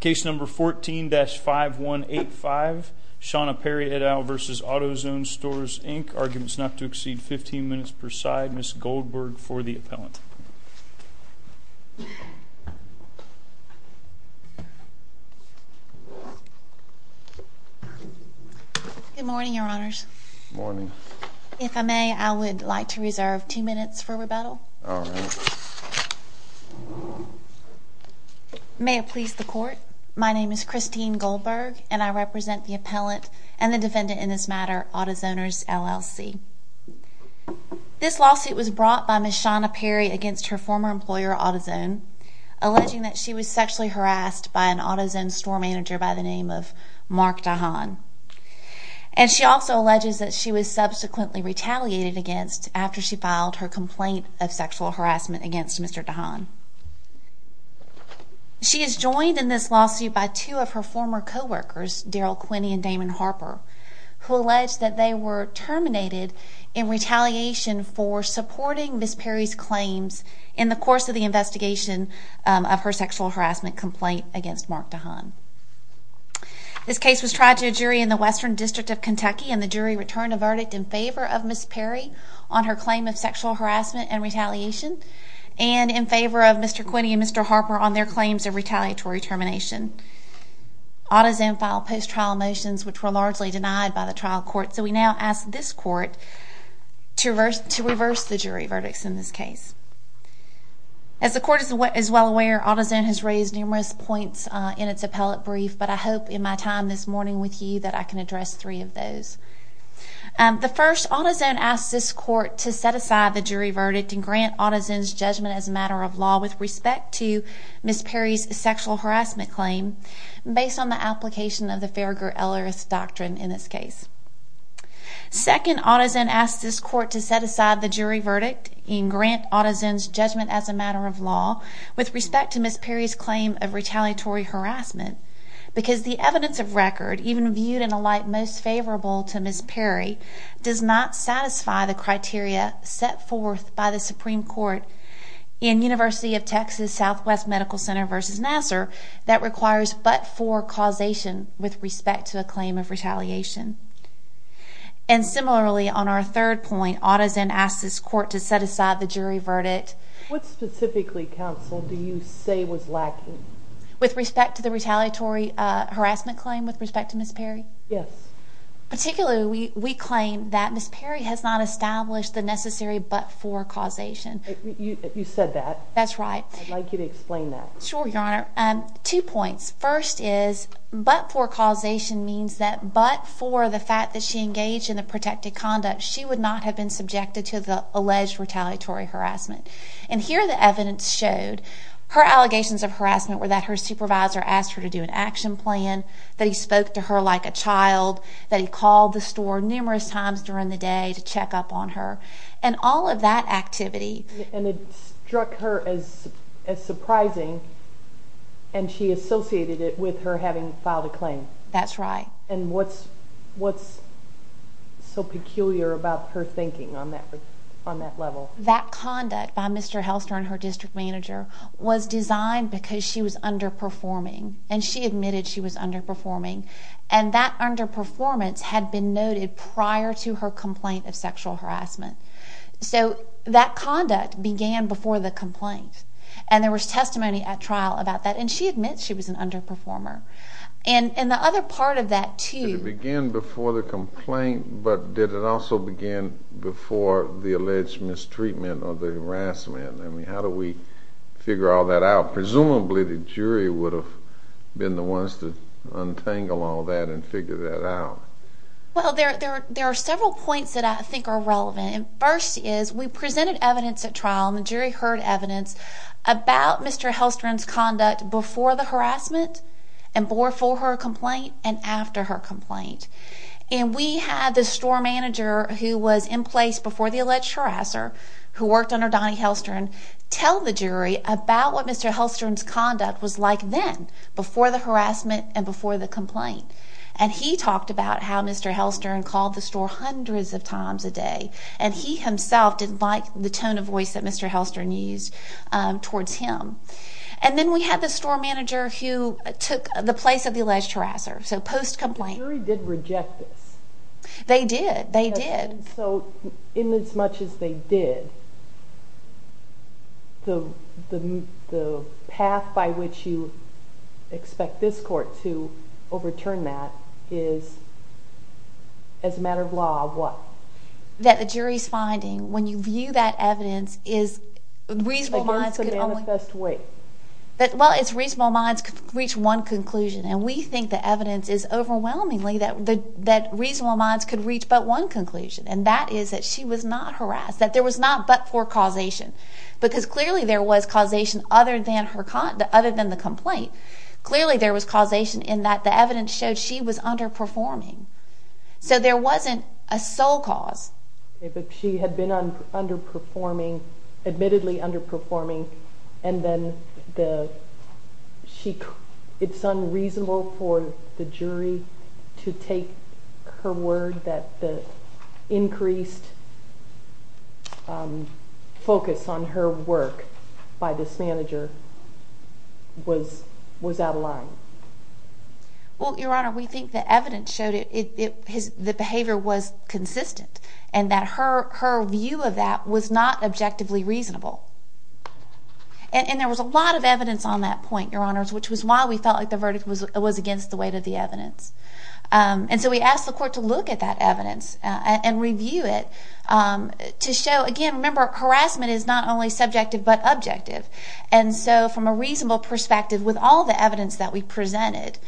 Case number 14-5185 Shana Perry et al. v. Autozone Stores Inc. Arguments not to exceed 15 minutes per side. Ms. Goldberg for the appellant. Good morning, your honors. Good morning. If I may, I would like to reserve two minutes for rebuttal. All right. May it please the court, my name is Christine Goldberg, and I represent the appellant and the defendant in this matter, AutoZoners, LLC. This lawsuit was brought by Ms. Shana Perry against her former employer, AutoZone, alleging that she was sexually harassed by an AutoZone store manager by the name of Mark Dahan. And she also alleges that she was subsequently retaliated against after she filed her complaint of sexual harassment against Mr. Dahan. She is joined in this lawsuit by two of her former co-workers, Daryl Quinney and Damon Harper, who allege that they were terminated in retaliation for supporting Ms. Perry's claims in the course of the investigation of her sexual harassment complaint against Mark Dahan. This case was tried to a jury in the Western District of Kentucky, and the jury returned a verdict in favor of Ms. Perry on her claim of sexual harassment and retaliation, and in favor of Mr. Quinney and Mr. Harper on their claims of retaliatory termination. AutoZone filed post-trial motions which were largely denied by the trial court, so we now ask this court to reverse the jury verdicts in this case. As the court is well aware, AutoZone has raised numerous points in its appellate brief, but I hope in my time this morning with you that I can address three of those. The first, AutoZone asks this court to set aside the jury verdict and grant AutoZone's judgment as a matter of law with respect to Ms. Perry's sexual harassment claim, based on the application of the Farragher-Ellis doctrine in this case. Second, AutoZone asks this court to set aside the jury verdict and grant AutoZone's judgment as a matter of law with respect to Ms. Perry's claim of retaliatory harassment, because the evidence of record, even viewed in a light most favorable to Ms. Perry, does not satisfy the criteria set forth by the Supreme Court in University of Texas Southwest Medical Center v. Nassar that requires but-for causation with respect to a claim of retaliation. And similarly, on our third point, AutoZone asks this court to set aside the jury verdict. What specifically, counsel, do you say was lacking? With respect to the retaliatory harassment claim with respect to Ms. Perry? Yes. Particularly, we claim that Ms. Perry has not established the necessary but-for causation. You said that. That's right. I'd like you to explain that. Sure, Your Honor. Two points. First is, but-for causation means that but for the fact that she engaged in a protected conduct, she would not have been subjected to the alleged retaliatory harassment. And here the evidence showed her allegations of harassment were that her supervisor asked her to do an action plan, that he spoke to her like a child, that he called the store numerous times during the day to check up on her, and all of that activity. And it struck her as surprising, and she associated it with her having filed a claim. That's right. And what's so peculiar about her thinking on that level? That conduct by Mr. Helster and her district manager was designed because she was underperforming. And she admitted she was underperforming. And that underperformance had been noted prior to her complaint of sexual harassment. So that conduct began before the complaint. And there was testimony at trial about that, and she admits she was an underperformer. And the other part of that, too- Did it begin before the complaint, but did it also begin before the alleged mistreatment or the harassment? I mean, how do we figure all that out? Presumably the jury would have been the ones to untangle all that and figure that out. Well, there are several points that I think are relevant. First is we presented evidence at trial, and the jury heard evidence about Mr. Helstron's conduct before the harassment, and before her complaint, and after her complaint. And we had the store manager who was in place before the alleged harasser, who worked under Donnie Helstron, tell the jury about what Mr. Helstron's conduct was like then, before the harassment and before the complaint. And he talked about how Mr. Helstron called the store hundreds of times a day, and he himself didn't like the tone of voice that Mr. Helstron used towards him. And then we had the store manager who took the place of the alleged harasser, so post-complaint. The jury did reject this. They did. They did. And so, in as much as they did, the path by which you expect this court to overturn that is, as a matter of law, what? That the jury's finding, when you view that evidence, is reasonable minds could only— Against an manifest way. Well, it's reasonable minds could reach one conclusion, and we think the evidence is overwhelmingly that reasonable minds could reach but one conclusion, and that is that she was not harassed, that there was not but for causation. Because clearly there was causation other than the complaint. Clearly there was causation in that the evidence showed she was underperforming. So there wasn't a sole cause. But she had been underperforming, admittedly underperforming, and then it's unreasonable for the jury to take her word that the increased focus on her work by this manager was out of line. Well, Your Honor, we think the evidence showed the behavior was consistent and that her view of that was not objectively reasonable. And there was a lot of evidence on that point, Your Honors, which was why we felt like the verdict was against the weight of the evidence. And so we asked the court to look at that evidence and review it to show, again, remember, harassment is not only subjective but objective. And so from a reasonable perspective, with all the evidence that we presented,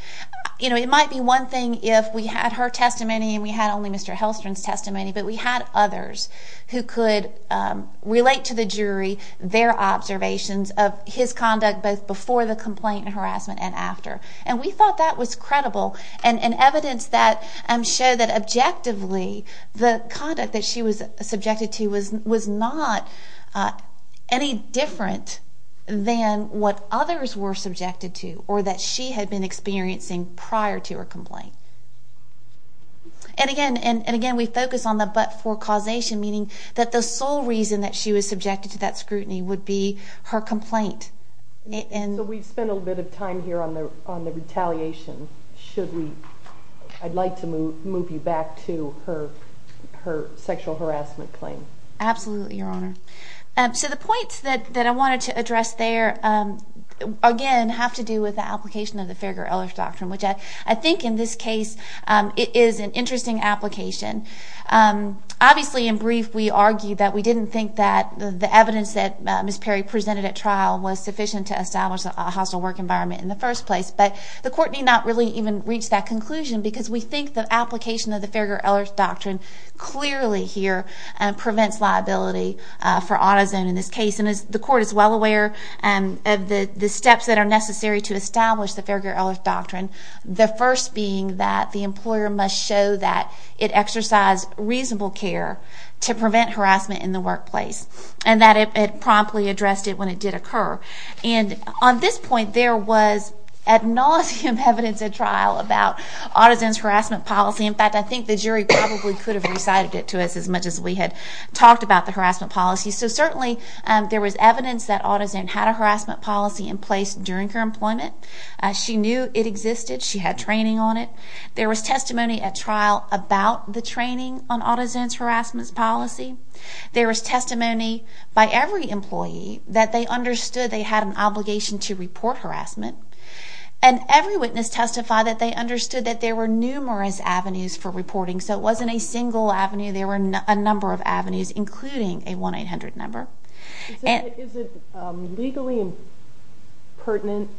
you know, it might be one thing if we had her testimony and we had only Mr. Hellstrom's testimony, but we had others who could relate to the jury their observations of his conduct both before the complaint and harassment and after. And we thought that was credible. And evidence that showed that objectively the conduct that she was subjected to was not any different than what others were subjected to or that she had been experiencing prior to her complaint. And, again, we focus on the but for causation, meaning that the sole reason that she was subjected to that scrutiny would be her complaint. So we've spent a little bit of time here on the retaliation. Should we, I'd like to move you back to her sexual harassment claim. Absolutely, Your Honor. So the points that I wanted to address there, again, have to do with the application of the Ferger-Ellis Doctrine, which I think in this case is an interesting application. Obviously, in brief, we argued that we didn't think that the evidence that Ms. Perry presented at trial was sufficient to establish a hostile work environment in the first place. But the Court need not really even reach that conclusion because we think the application of the Ferger-Ellis Doctrine clearly here prevents liability for AutoZone in this case. And the Court is well aware of the steps that are necessary to establish the Ferger-Ellis Doctrine. The first being that the employer must show that it exercised reasonable care to prevent harassment in the workplace and that it promptly addressed it when it did occur. And on this point, there was ad nauseum evidence at trial about AutoZone's harassment policy. In fact, I think the jury probably could have recited it to us as much as we had talked about the harassment policy. So certainly, there was evidence that AutoZone had a harassment policy in place during her employment. She knew it existed. She had training on it. There was testimony at trial about the training on AutoZone's harassment policy. There was testimony by every employee that they understood they had an obligation to report harassment. And every witness testified that they understood that there were numerous avenues for reporting. So it wasn't a single avenue. There were a number of avenues, including a 1-800 number. Is it legally pertinent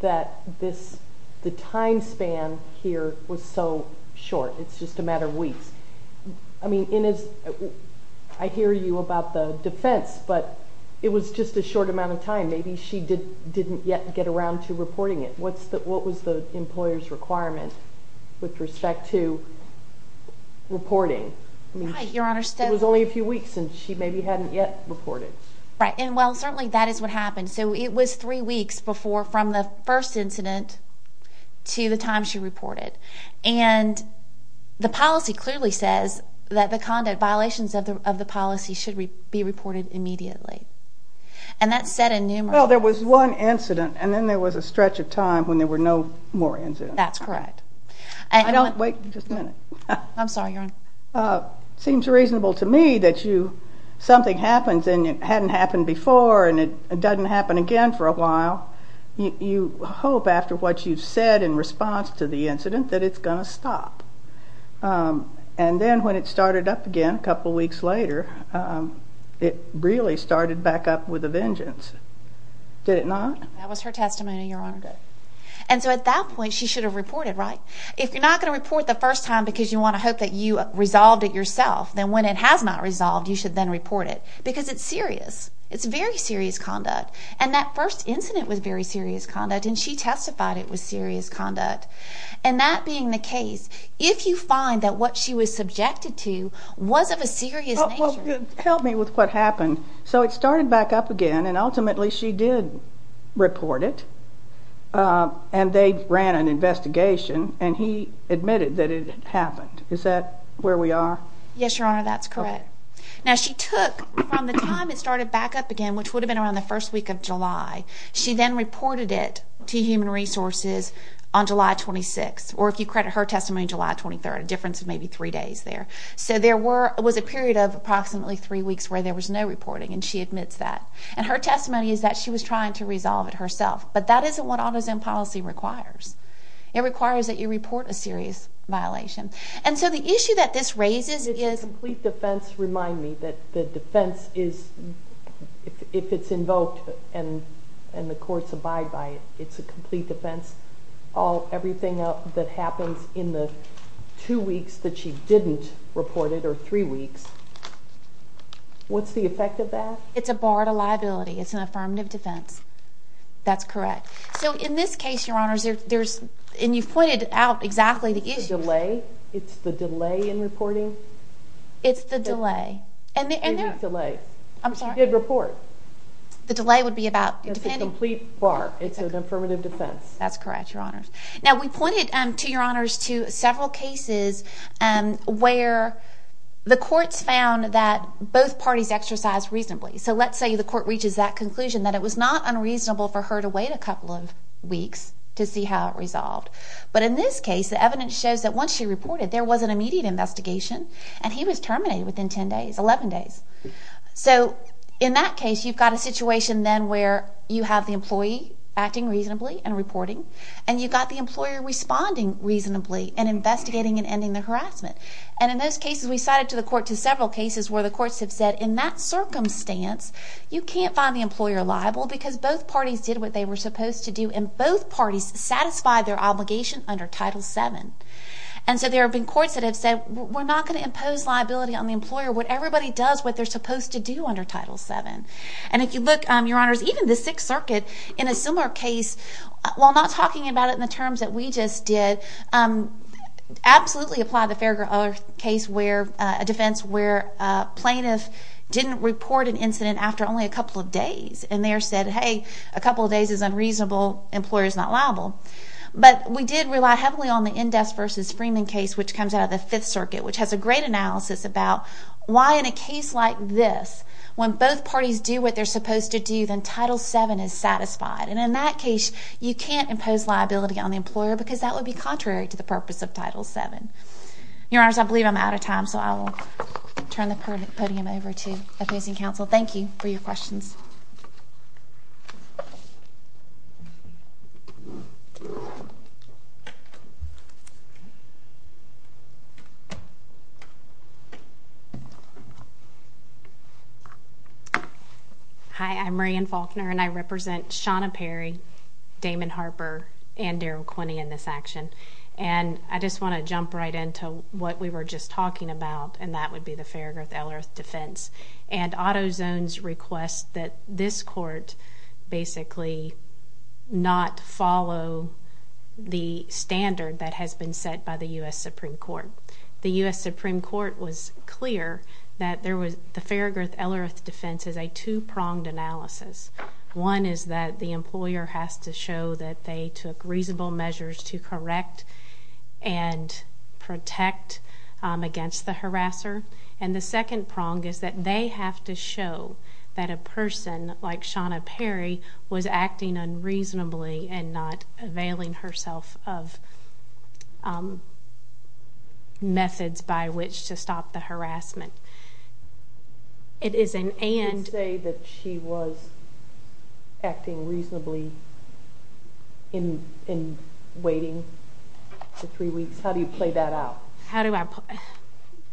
that the time span here was so short? It's just a matter of weeks. I mean, I hear you about the defense, but it was just a short amount of time. Maybe she didn't yet get around to reporting it. What was the employer's requirement with respect to reporting? It was only a few weeks, and she maybe hadn't yet reported. Right. And, well, certainly that is what happened. So it was three weeks from the first incident to the time she reported. And the policy clearly says that the conduct violations of the policy should be reported immediately. And that's said in numerous ways. Well, there was one incident, and then there was a stretch of time when there were no more incidents. That's correct. Wait just a minute. I'm sorry, Your Honor. It seems reasonable to me that something happens and it hadn't happened before, and it doesn't happen again for a while. You hope after what you've said in response to the incident that it's going to stop. And then when it started up again a couple weeks later, it really started back up with a vengeance. Did it not? That was her testimony, Your Honor. Good. And so at that point she should have reported, right? If you're not going to report the first time because you want to hope that you resolved it yourself, then when it has not resolved you should then report it because it's serious. It's very serious conduct. And that first incident was very serious conduct, and she testified it was serious conduct. And that being the case, if you find that what she was subjected to was of a serious nature. Help me with what happened. So it started back up again, and ultimately she did report it, and they ran an investigation, and he admitted that it had happened. Is that where we are? Yes, Your Honor, that's correct. Now she took from the time it started back up again, which would have been around the first week of July, she then reported it to Human Resources on July 26th. Or if you credit her testimony, July 23rd, a difference of maybe three days there. So there was a period of approximately three weeks where there was no reporting, and she admits that. And her testimony is that she was trying to resolve it herself. But that isn't what AutoZone policy requires. It requires that you report a serious violation. And so the issue that this raises is... Does the complete defense remind me that the defense is, if it's invoked and the courts abide by it, it's a complete defense, everything that happens in the two weeks that she didn't report it, or three weeks. What's the effect of that? It's a bar to liability. It's an affirmative defense. That's correct. So in this case, Your Honors, there's, and you've pointed out exactly the issues. It's the delay. It's the delay in reporting. It's the delay. Three-week delay. I'm sorry. You did report. The delay would be about... It's a complete bar. It's an affirmative defense. That's correct, Your Honors. Now, we pointed to, Your Honors, to several cases where the courts found that both parties exercised reasonably. So let's say the court reaches that conclusion, that it was not unreasonable for her to wait a couple of weeks to see how it resolved. But in this case, the evidence shows that once she reported, there was an immediate investigation, and he was terminated within 10 days, 11 days. So in that case, you've got a situation then where you have the employee acting reasonably and reporting, and you've got the employer responding reasonably and investigating and ending the harassment. And in those cases, we cited to the court to several cases where the courts have said, in that circumstance, you can't find the employer liable because both parties did what they were supposed to do, and both parties satisfied their obligation under Title VII. And so there have been courts that have said, we're not going to impose liability on the employer. Everybody does what they're supposed to do under Title VII. And if you look, Your Honors, even the Sixth Circuit, in a similar case, while not talking about it in the terms that we just did, absolutely applied the fair case where, a defense where a plaintiff didn't report an incident after only a couple of days, and there said, hey, a couple of days is unreasonable, employer's not liable. But we did rely heavily on the Indes versus Freeman case, which comes out of the Fifth Circuit, which has a great analysis about why in a case like this, when both parties do what they're supposed to do, then Title VII is satisfied. And in that case, you can't impose liability on the employer because that would be contrary to the purpose of Title VII. Your Honors, I believe I'm out of time, so I will turn the podium over to opposing counsel. Thank you for your questions. Hi, I'm Rae Ann Faulkner, and I represent Shawna Perry, Damon Harper, and Darrell Quinney in this action. And I just want to jump right into what we were just talking about, and that would be the Fairgroth-Ellerth defense. And AutoZone's request that this court basically not follow the standard that has been set by the U.S. Supreme Court. The U.S. Supreme Court was clear that the Fairgroth-Ellerth defense is a two-pronged analysis. One is that the employer has to show that they took reasonable measures to correct and protect against the harasser. And the second prong is that they have to show that a person like Shawna Perry was acting unreasonably and not availing herself of methods by which to stop the harassment. It is an and. You didn't say that she was acting reasonably in waiting for three weeks. How do you play that out?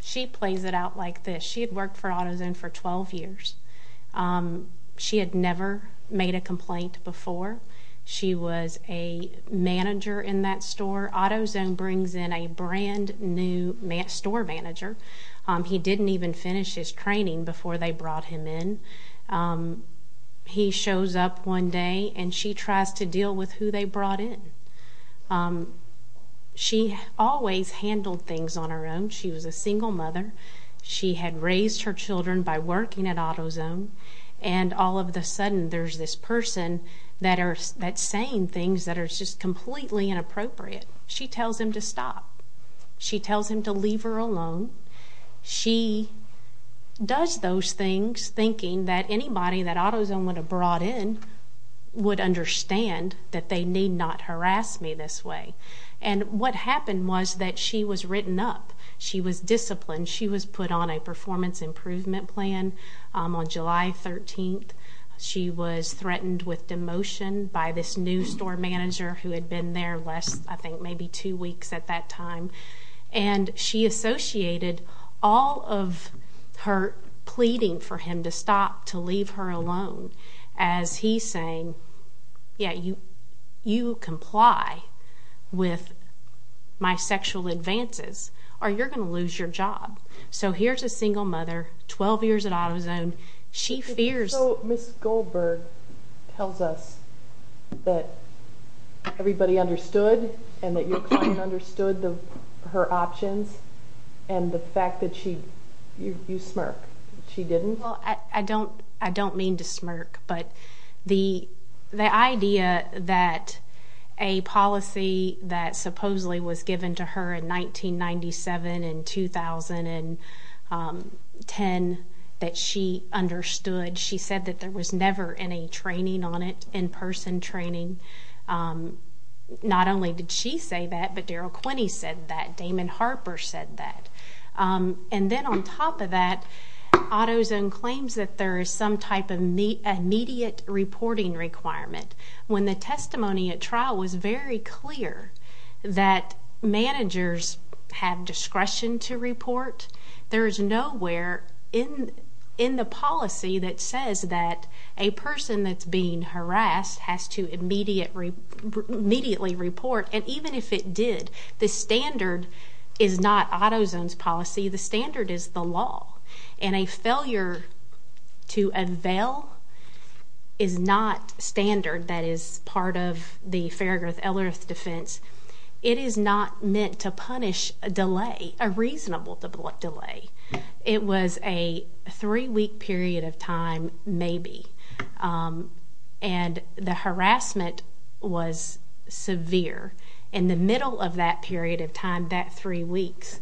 She plays it out like this. She had worked for AutoZone for 12 years. She had never made a complaint before. She was a manager in that store. AutoZone brings in a brand-new store manager. He didn't even finish his training before they brought him in. He shows up one day, and she tries to deal with who they brought in. She always handled things on her own. She was a single mother. She had raised her children by working at AutoZone, and all of a sudden there's this person that's saying things that are just completely inappropriate. She tells him to stop. She tells him to leave her alone. She does those things thinking that anybody that AutoZone would have brought in would understand that they need not harass me this way. And what happened was that she was written up. She was disciplined. She was put on a performance improvement plan. On July 13th, she was threatened with demotion by this new store manager who had been there less, I think, maybe two weeks at that time. And she associated all of her pleading for him to stop, to leave her alone, as he's saying, yeah, you comply with my sexual advances or you're going to lose your job. So here's a single mother, 12 years at AutoZone. She fears. So Ms. Goldberg tells us that everybody understood and that your client understood her options and the fact that you smirk. She didn't? Well, I don't mean to smirk, but the idea that a policy that supposedly was given to her in 1997 and 2010 that she understood, she said that there was never any training on it, in-person training. Not only did she say that, but Daryl Quinney said that. Damon Harper said that. And then on top of that, AutoZone claims that there is some type of immediate reporting requirement. When the testimony at trial was very clear that managers have discretion to report, there is nowhere in the policy that says that a person that's being harassed has to immediately report. And even if it did, the standard is not AutoZone's policy. The standard is the law. And a failure to avail is not standard that is part of the Farraguth-Ellerth defense. It is not meant to punish a delay, a reasonable delay. It was a three-week period of time, maybe, and the harassment was severe. In the middle of that period of time, that three weeks,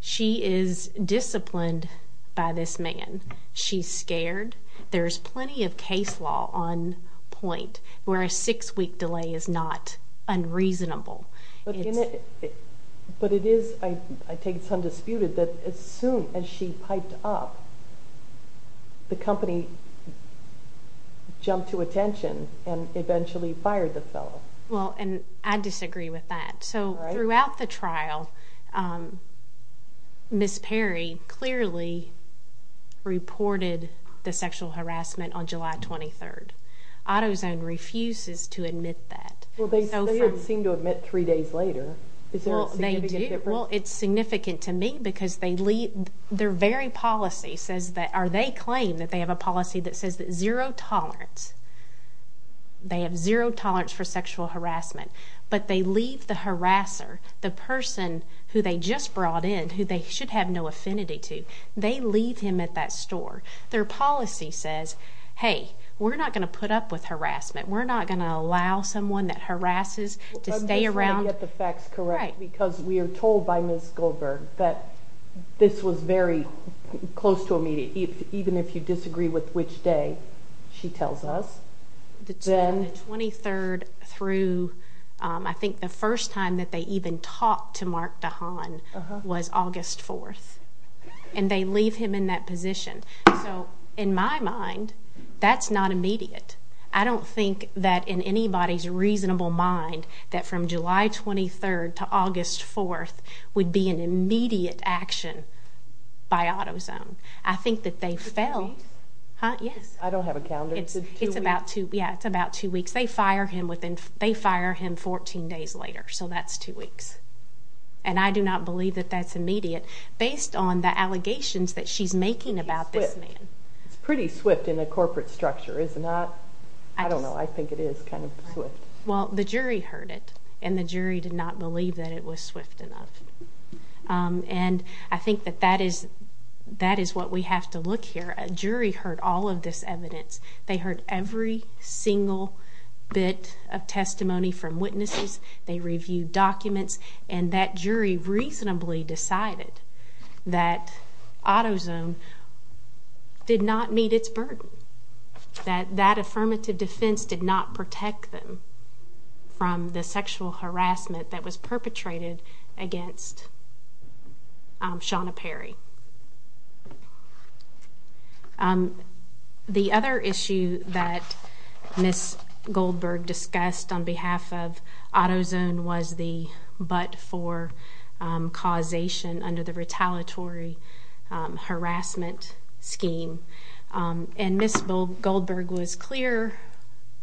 she is disciplined by this man. She's scared. There's plenty of case law on point where a six-week delay is not unreasonable. But it is, I take it, undisputed that as soon as she piped up, the company jumped to attention and eventually fired the fellow. Well, and I disagree with that. So throughout the trial, Ms. Perry clearly reported the sexual harassment on July 23rd. AutoZone refuses to admit that. Well, they didn't seem to admit three days later. Is there a significant difference? Well, it's significant to me because their very policy says that, or they claim that they have a policy that says that zero tolerance, they have zero tolerance for sexual harassment. But they leave the harasser, the person who they just brought in, who they should have no affinity to, they leave him at that store. Their policy says, hey, we're not going to put up with harassment. We're not going to allow someone that harasses to stay around. I'm just trying to get the facts correct because we are told by Ms. Goldberg that this was very close to immediate, even if you disagree with which day she tells us. The 23rd through I think the first time that they even talked to Mark DeHaan was August 4th, and they leave him in that position. So in my mind, that's not immediate. I don't think that in anybody's reasonable mind that from July 23rd to August 4th would be an immediate action by AutoZone. I think that they fell. Is it two weeks? Yes. I don't have a calendar. It's about two weeks. They fire him 14 days later, so that's two weeks. And I do not believe that that's immediate based on the allegations that she's making about this man. It's pretty swift in a corporate structure, is it not? I don't know. I think it is kind of swift. Well, the jury heard it, and the jury did not believe that it was swift enough. And I think that that is what we have to look here. A jury heard all of this evidence. They heard every single bit of testimony from witnesses. They reviewed documents. And that jury reasonably decided that AutoZone did not meet its burden, that that affirmative defense did not protect them from the sexual harassment that was perpetrated against Shawna Perry. The other issue that Ms. Goldberg discussed on behalf of AutoZone was the but for causation under the retaliatory harassment scheme. And Ms. Goldberg was clear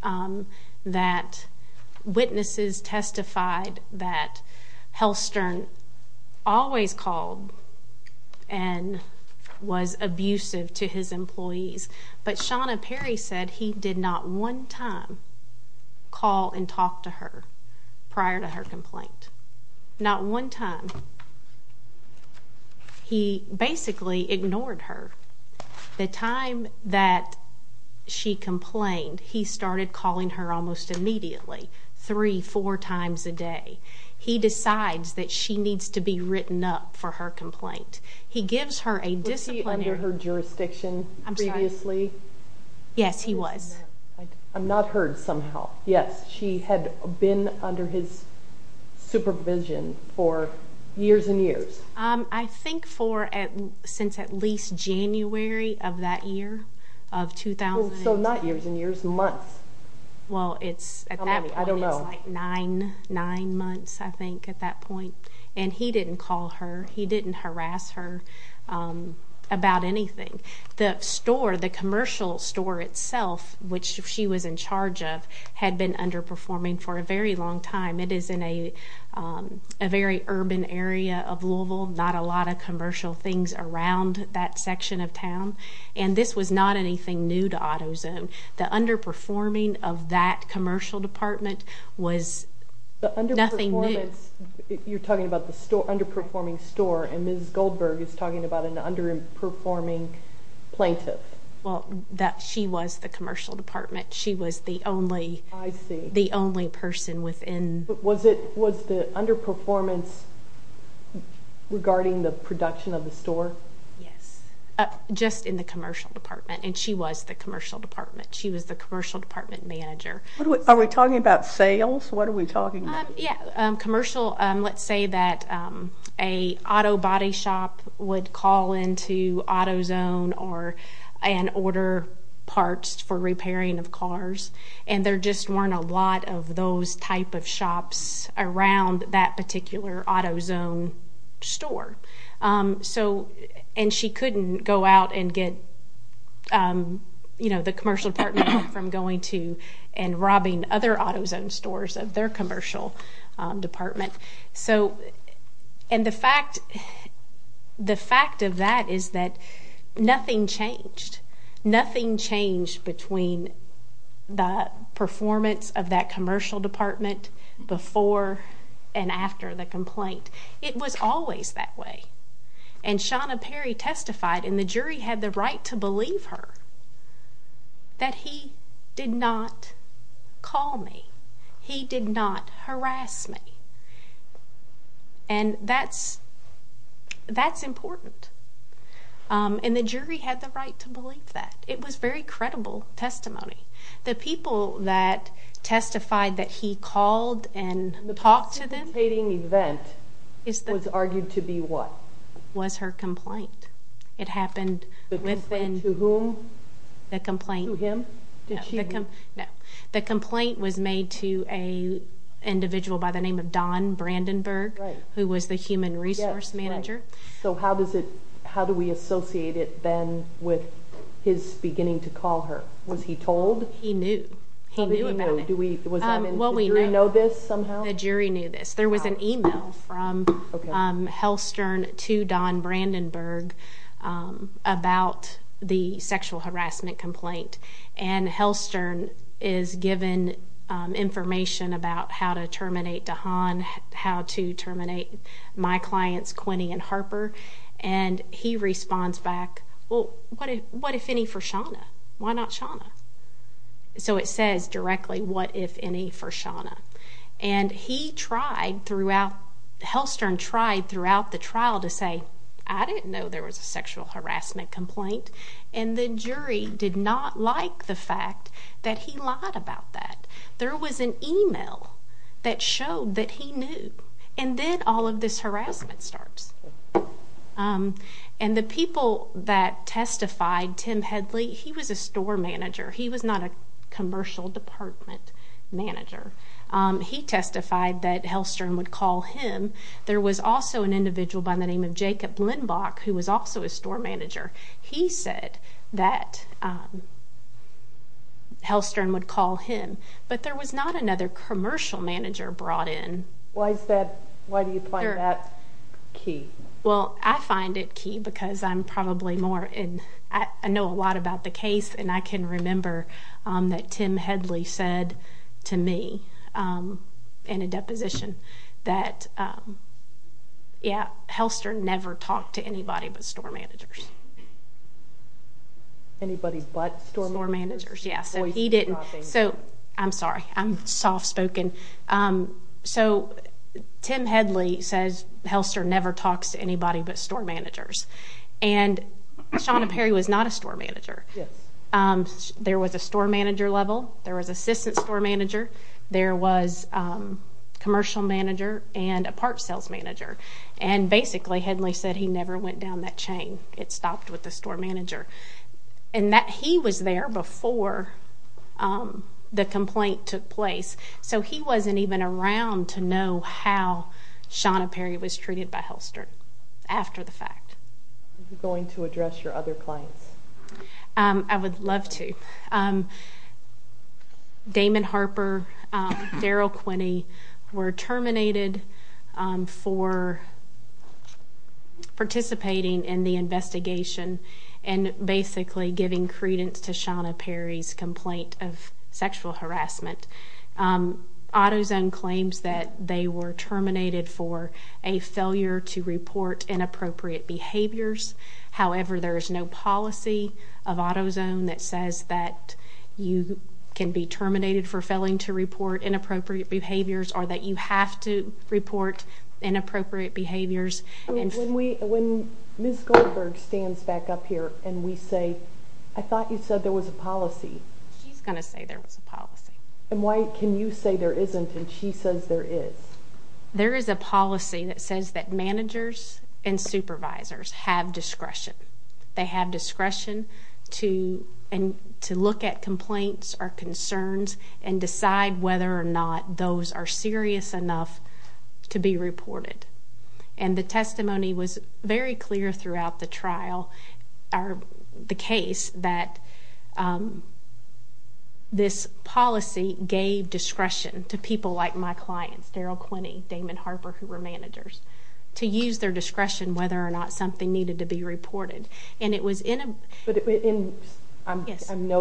that witnesses testified that Hellstern always called and was abusive to his employees. But Shawna Perry said he did not one time call and talk to her prior to her complaint. Not one time. He basically ignored her. The time that she complained, he started calling her almost immediately, three, four times a day. He decides that she needs to be written up for her complaint. He gives her a disciplinary. Was he under her jurisdiction previously? Yes, he was. I'm not heard somehow. Yes, she had been under his supervision for years and years. I think since at least January of that year, of 2000. So not years and years, months. Well, it's at that point. I don't know. It's like nine months, I think, at that point. And he didn't call her. He didn't harass her about anything. The store, the commercial store itself, which she was in charge of, had been underperforming for a very long time. It is in a very urban area of Louisville, not a lot of commercial things around that section of town. And this was not anything new to AutoZone. The underperforming of that commercial department was nothing new. You're talking about the underperforming store, and Ms. Goldberg is talking about an underperforming plaintiff. Well, she was the commercial department. She was the only person within. Was the underperformance regarding the production of the store? Yes, just in the commercial department. And she was the commercial department. She was the commercial department manager. Are we talking about sales? What are we talking about? Yes, commercial. Let's say that an auto body shop would call into AutoZone and order parts for repairing of cars, and there just weren't a lot of those type of shops around that particular AutoZone store. And she couldn't go out and get the commercial department from going to and robbing other AutoZone stores of their commercial department. And the fact of that is that nothing changed. Nothing changed between the performance of that commercial department before and after the complaint. It was always that way. And Shauna Perry testified, and the jury had the right to believe her, that he did not call me. He did not harass me. And that's important. And the jury had the right to believe that. It was very credible testimony. The people that testified that he called and talked to them was her complaint. The complaint to whom? The complaint. To him? No. The complaint was made to an individual by the name of Don Brandenburg, who was the human resource manager. So how do we associate it then with his beginning to call her? Was he told? He knew. He knew about it. Did the jury know this somehow? The jury knew this. There was an email from Hellstern to Don Brandenburg about the sexual harassment complaint. And Hellstern is given information about how to terminate DeHaan, how to terminate my clients, Quinney and Harper. And he responds back, well, what if any for Shauna? Why not Shauna? So it says directly, what if any for Shauna? And Hellstern tried throughout the trial to say, I didn't know there was a sexual harassment complaint. And the jury did not like the fact that he lied about that. There was an email that showed that he knew. And then all of this harassment starts. And the people that testified, Tim Headley, he was a store manager. He was not a commercial department manager. He testified that Hellstern would call him. There was also an individual by the name of Jacob Blenbach, who was also a store manager. He said that Hellstern would call him. But there was not another commercial manager brought in. Why do you find that key? Well, I find it key because I'm probably more in, I know a lot about the case. And I can remember that Tim Headley said to me in a deposition that, yeah, Hellstern never talked to anybody but store managers. Anybody but store managers? Yeah, so he didn't. I'm sorry. I'm soft-spoken. So Tim Headley says Hellstern never talks to anybody but store managers. And Shawna Perry was not a store manager. There was a store manager level. There was assistant store manager. There was commercial manager and a parts sales manager. And basically, Headley said he never went down that chain. It stopped with the store manager. And he was there before the complaint took place. So he wasn't even around to know how Shawna Perry was treated by Hellstern after the fact. Are you going to address your other clients? I would love to. Damon Harper, Daryl Quinney were terminated for participating in the investigation and basically giving credence to Shawna Perry's complaint of sexual harassment. AutoZone claims that they were terminated for a failure to report inappropriate behaviors. However, there is no policy of AutoZone that says that you can be terminated for failing to report inappropriate behaviors or that you have to report inappropriate behaviors. When Ms. Goldberg stands back up here and we say, I thought you said there was a policy. She's going to say there was a policy. And why can you say there isn't and she says there is? There is a policy that says that managers and supervisors have discretion. They have discretion to look at complaints or concerns and decide whether or not those are serious enough to be reported. And the testimony was very clear throughout the trial or the case that this policy gave discretion to people like my clients, Daryl Quinney, Damon Harper, who were managers, to use their discretion whether or not something needed to be reported. I know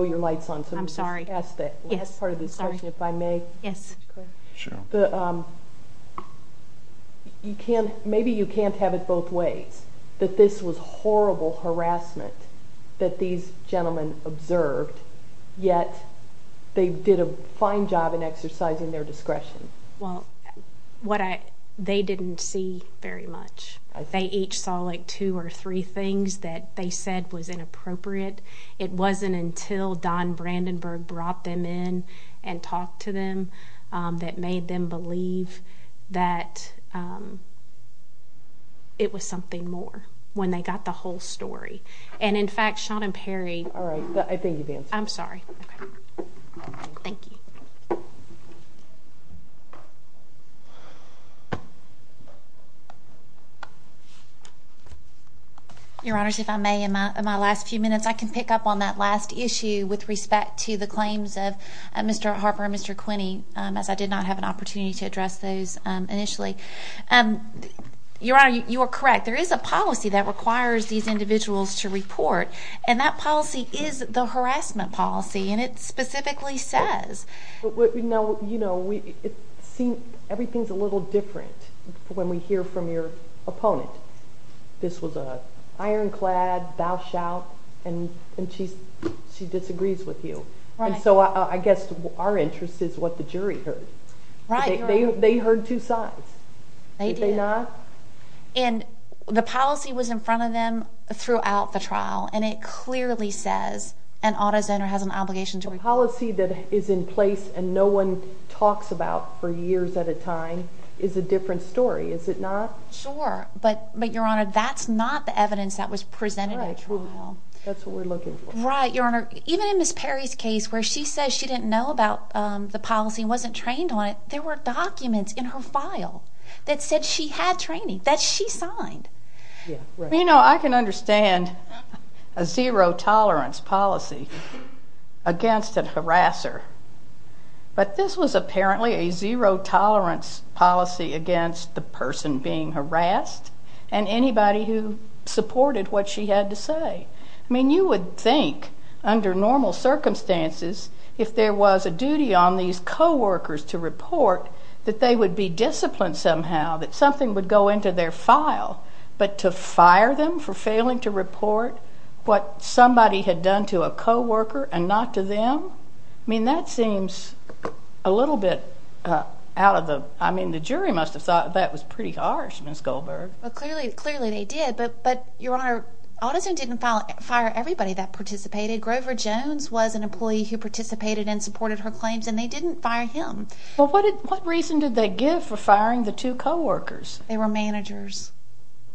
your light's on. I'm sorry. Can I ask the last part of this question, if I may? Yes. Sure. Maybe you can't have it both ways, that this was horrible harassment that these gentlemen observed, yet they did a fine job in exercising their discretion. Well, they didn't see very much. They each saw like two or three things that they said was inappropriate. It wasn't until Don Brandenburg brought them in and talked to them that made them believe that it was something more when they got the whole story. And, in fact, Sean and Perry. All right. I think you've answered. I'm sorry. Okay. Thank you. Thank you. Your Honors, if I may, in my last few minutes, I can pick up on that last issue with respect to the claims of Mr. Harper and Mr. Quinney, as I did not have an opportunity to address those initially. Your Honor, you are correct. There is a policy that requires these individuals to report, and that policy is the harassment policy. And it specifically says. Now, you know, everything's a little different when we hear from your opponent. This was an ironclad bow shout, and she disagrees with you. And so I guess our interest is what the jury heard. Right. They heard two sides. They did. Did they not? And the policy was in front of them throughout the trial, and it clearly says an auto zoner has an obligation to report. A policy that is in place and no one talks about for years at a time is a different story, is it not? Sure. But, Your Honor, that's not the evidence that was presented at the trial. That's what we're looking for. Right. Your Honor, even in Ms. Perry's case, where she says she didn't know about the policy and wasn't trained on it, there were documents in her file that said she had training, that she signed. You know, I can understand a zero-tolerance policy against a harasser, but this was apparently a zero-tolerance policy against the person being harassed and anybody who supported what she had to say. I mean, you would think, under normal circumstances, if there was a duty on these coworkers to report, that they would be disciplined somehow, that something would go into their file, but to fire them for failing to report what somebody had done to a coworker and not to them? I mean, that seems a little bit out of the— I mean, the jury must have thought that was pretty harsh, Ms. Goldberg. Well, clearly they did, but, Your Honor, AutoZone didn't fire everybody that participated. Grover Jones was an employee who participated and supported her claims, and they didn't fire him. Well, what reason did they give for firing the two coworkers? They were managers,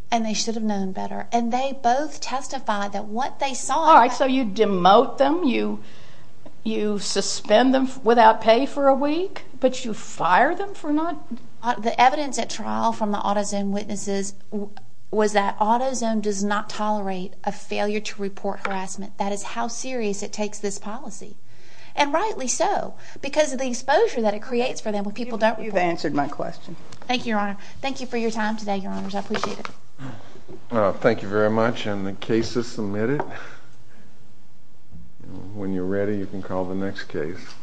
and they should have known better, and they both testified that what they saw— All right, so you demote them, you suspend them without pay for a week, but you fire them for not— The evidence at trial from the AutoZone witnesses was that AutoZone does not tolerate a failure to report harassment. That is how serious it takes this policy, and rightly so, because of the exposure that it creates for them when people don't report. You've answered my question. Thank you, Your Honor. Thank you for your time today, Your Honors. I appreciate it. Thank you very much, and the case is submitted. When you're ready, you can call the next case.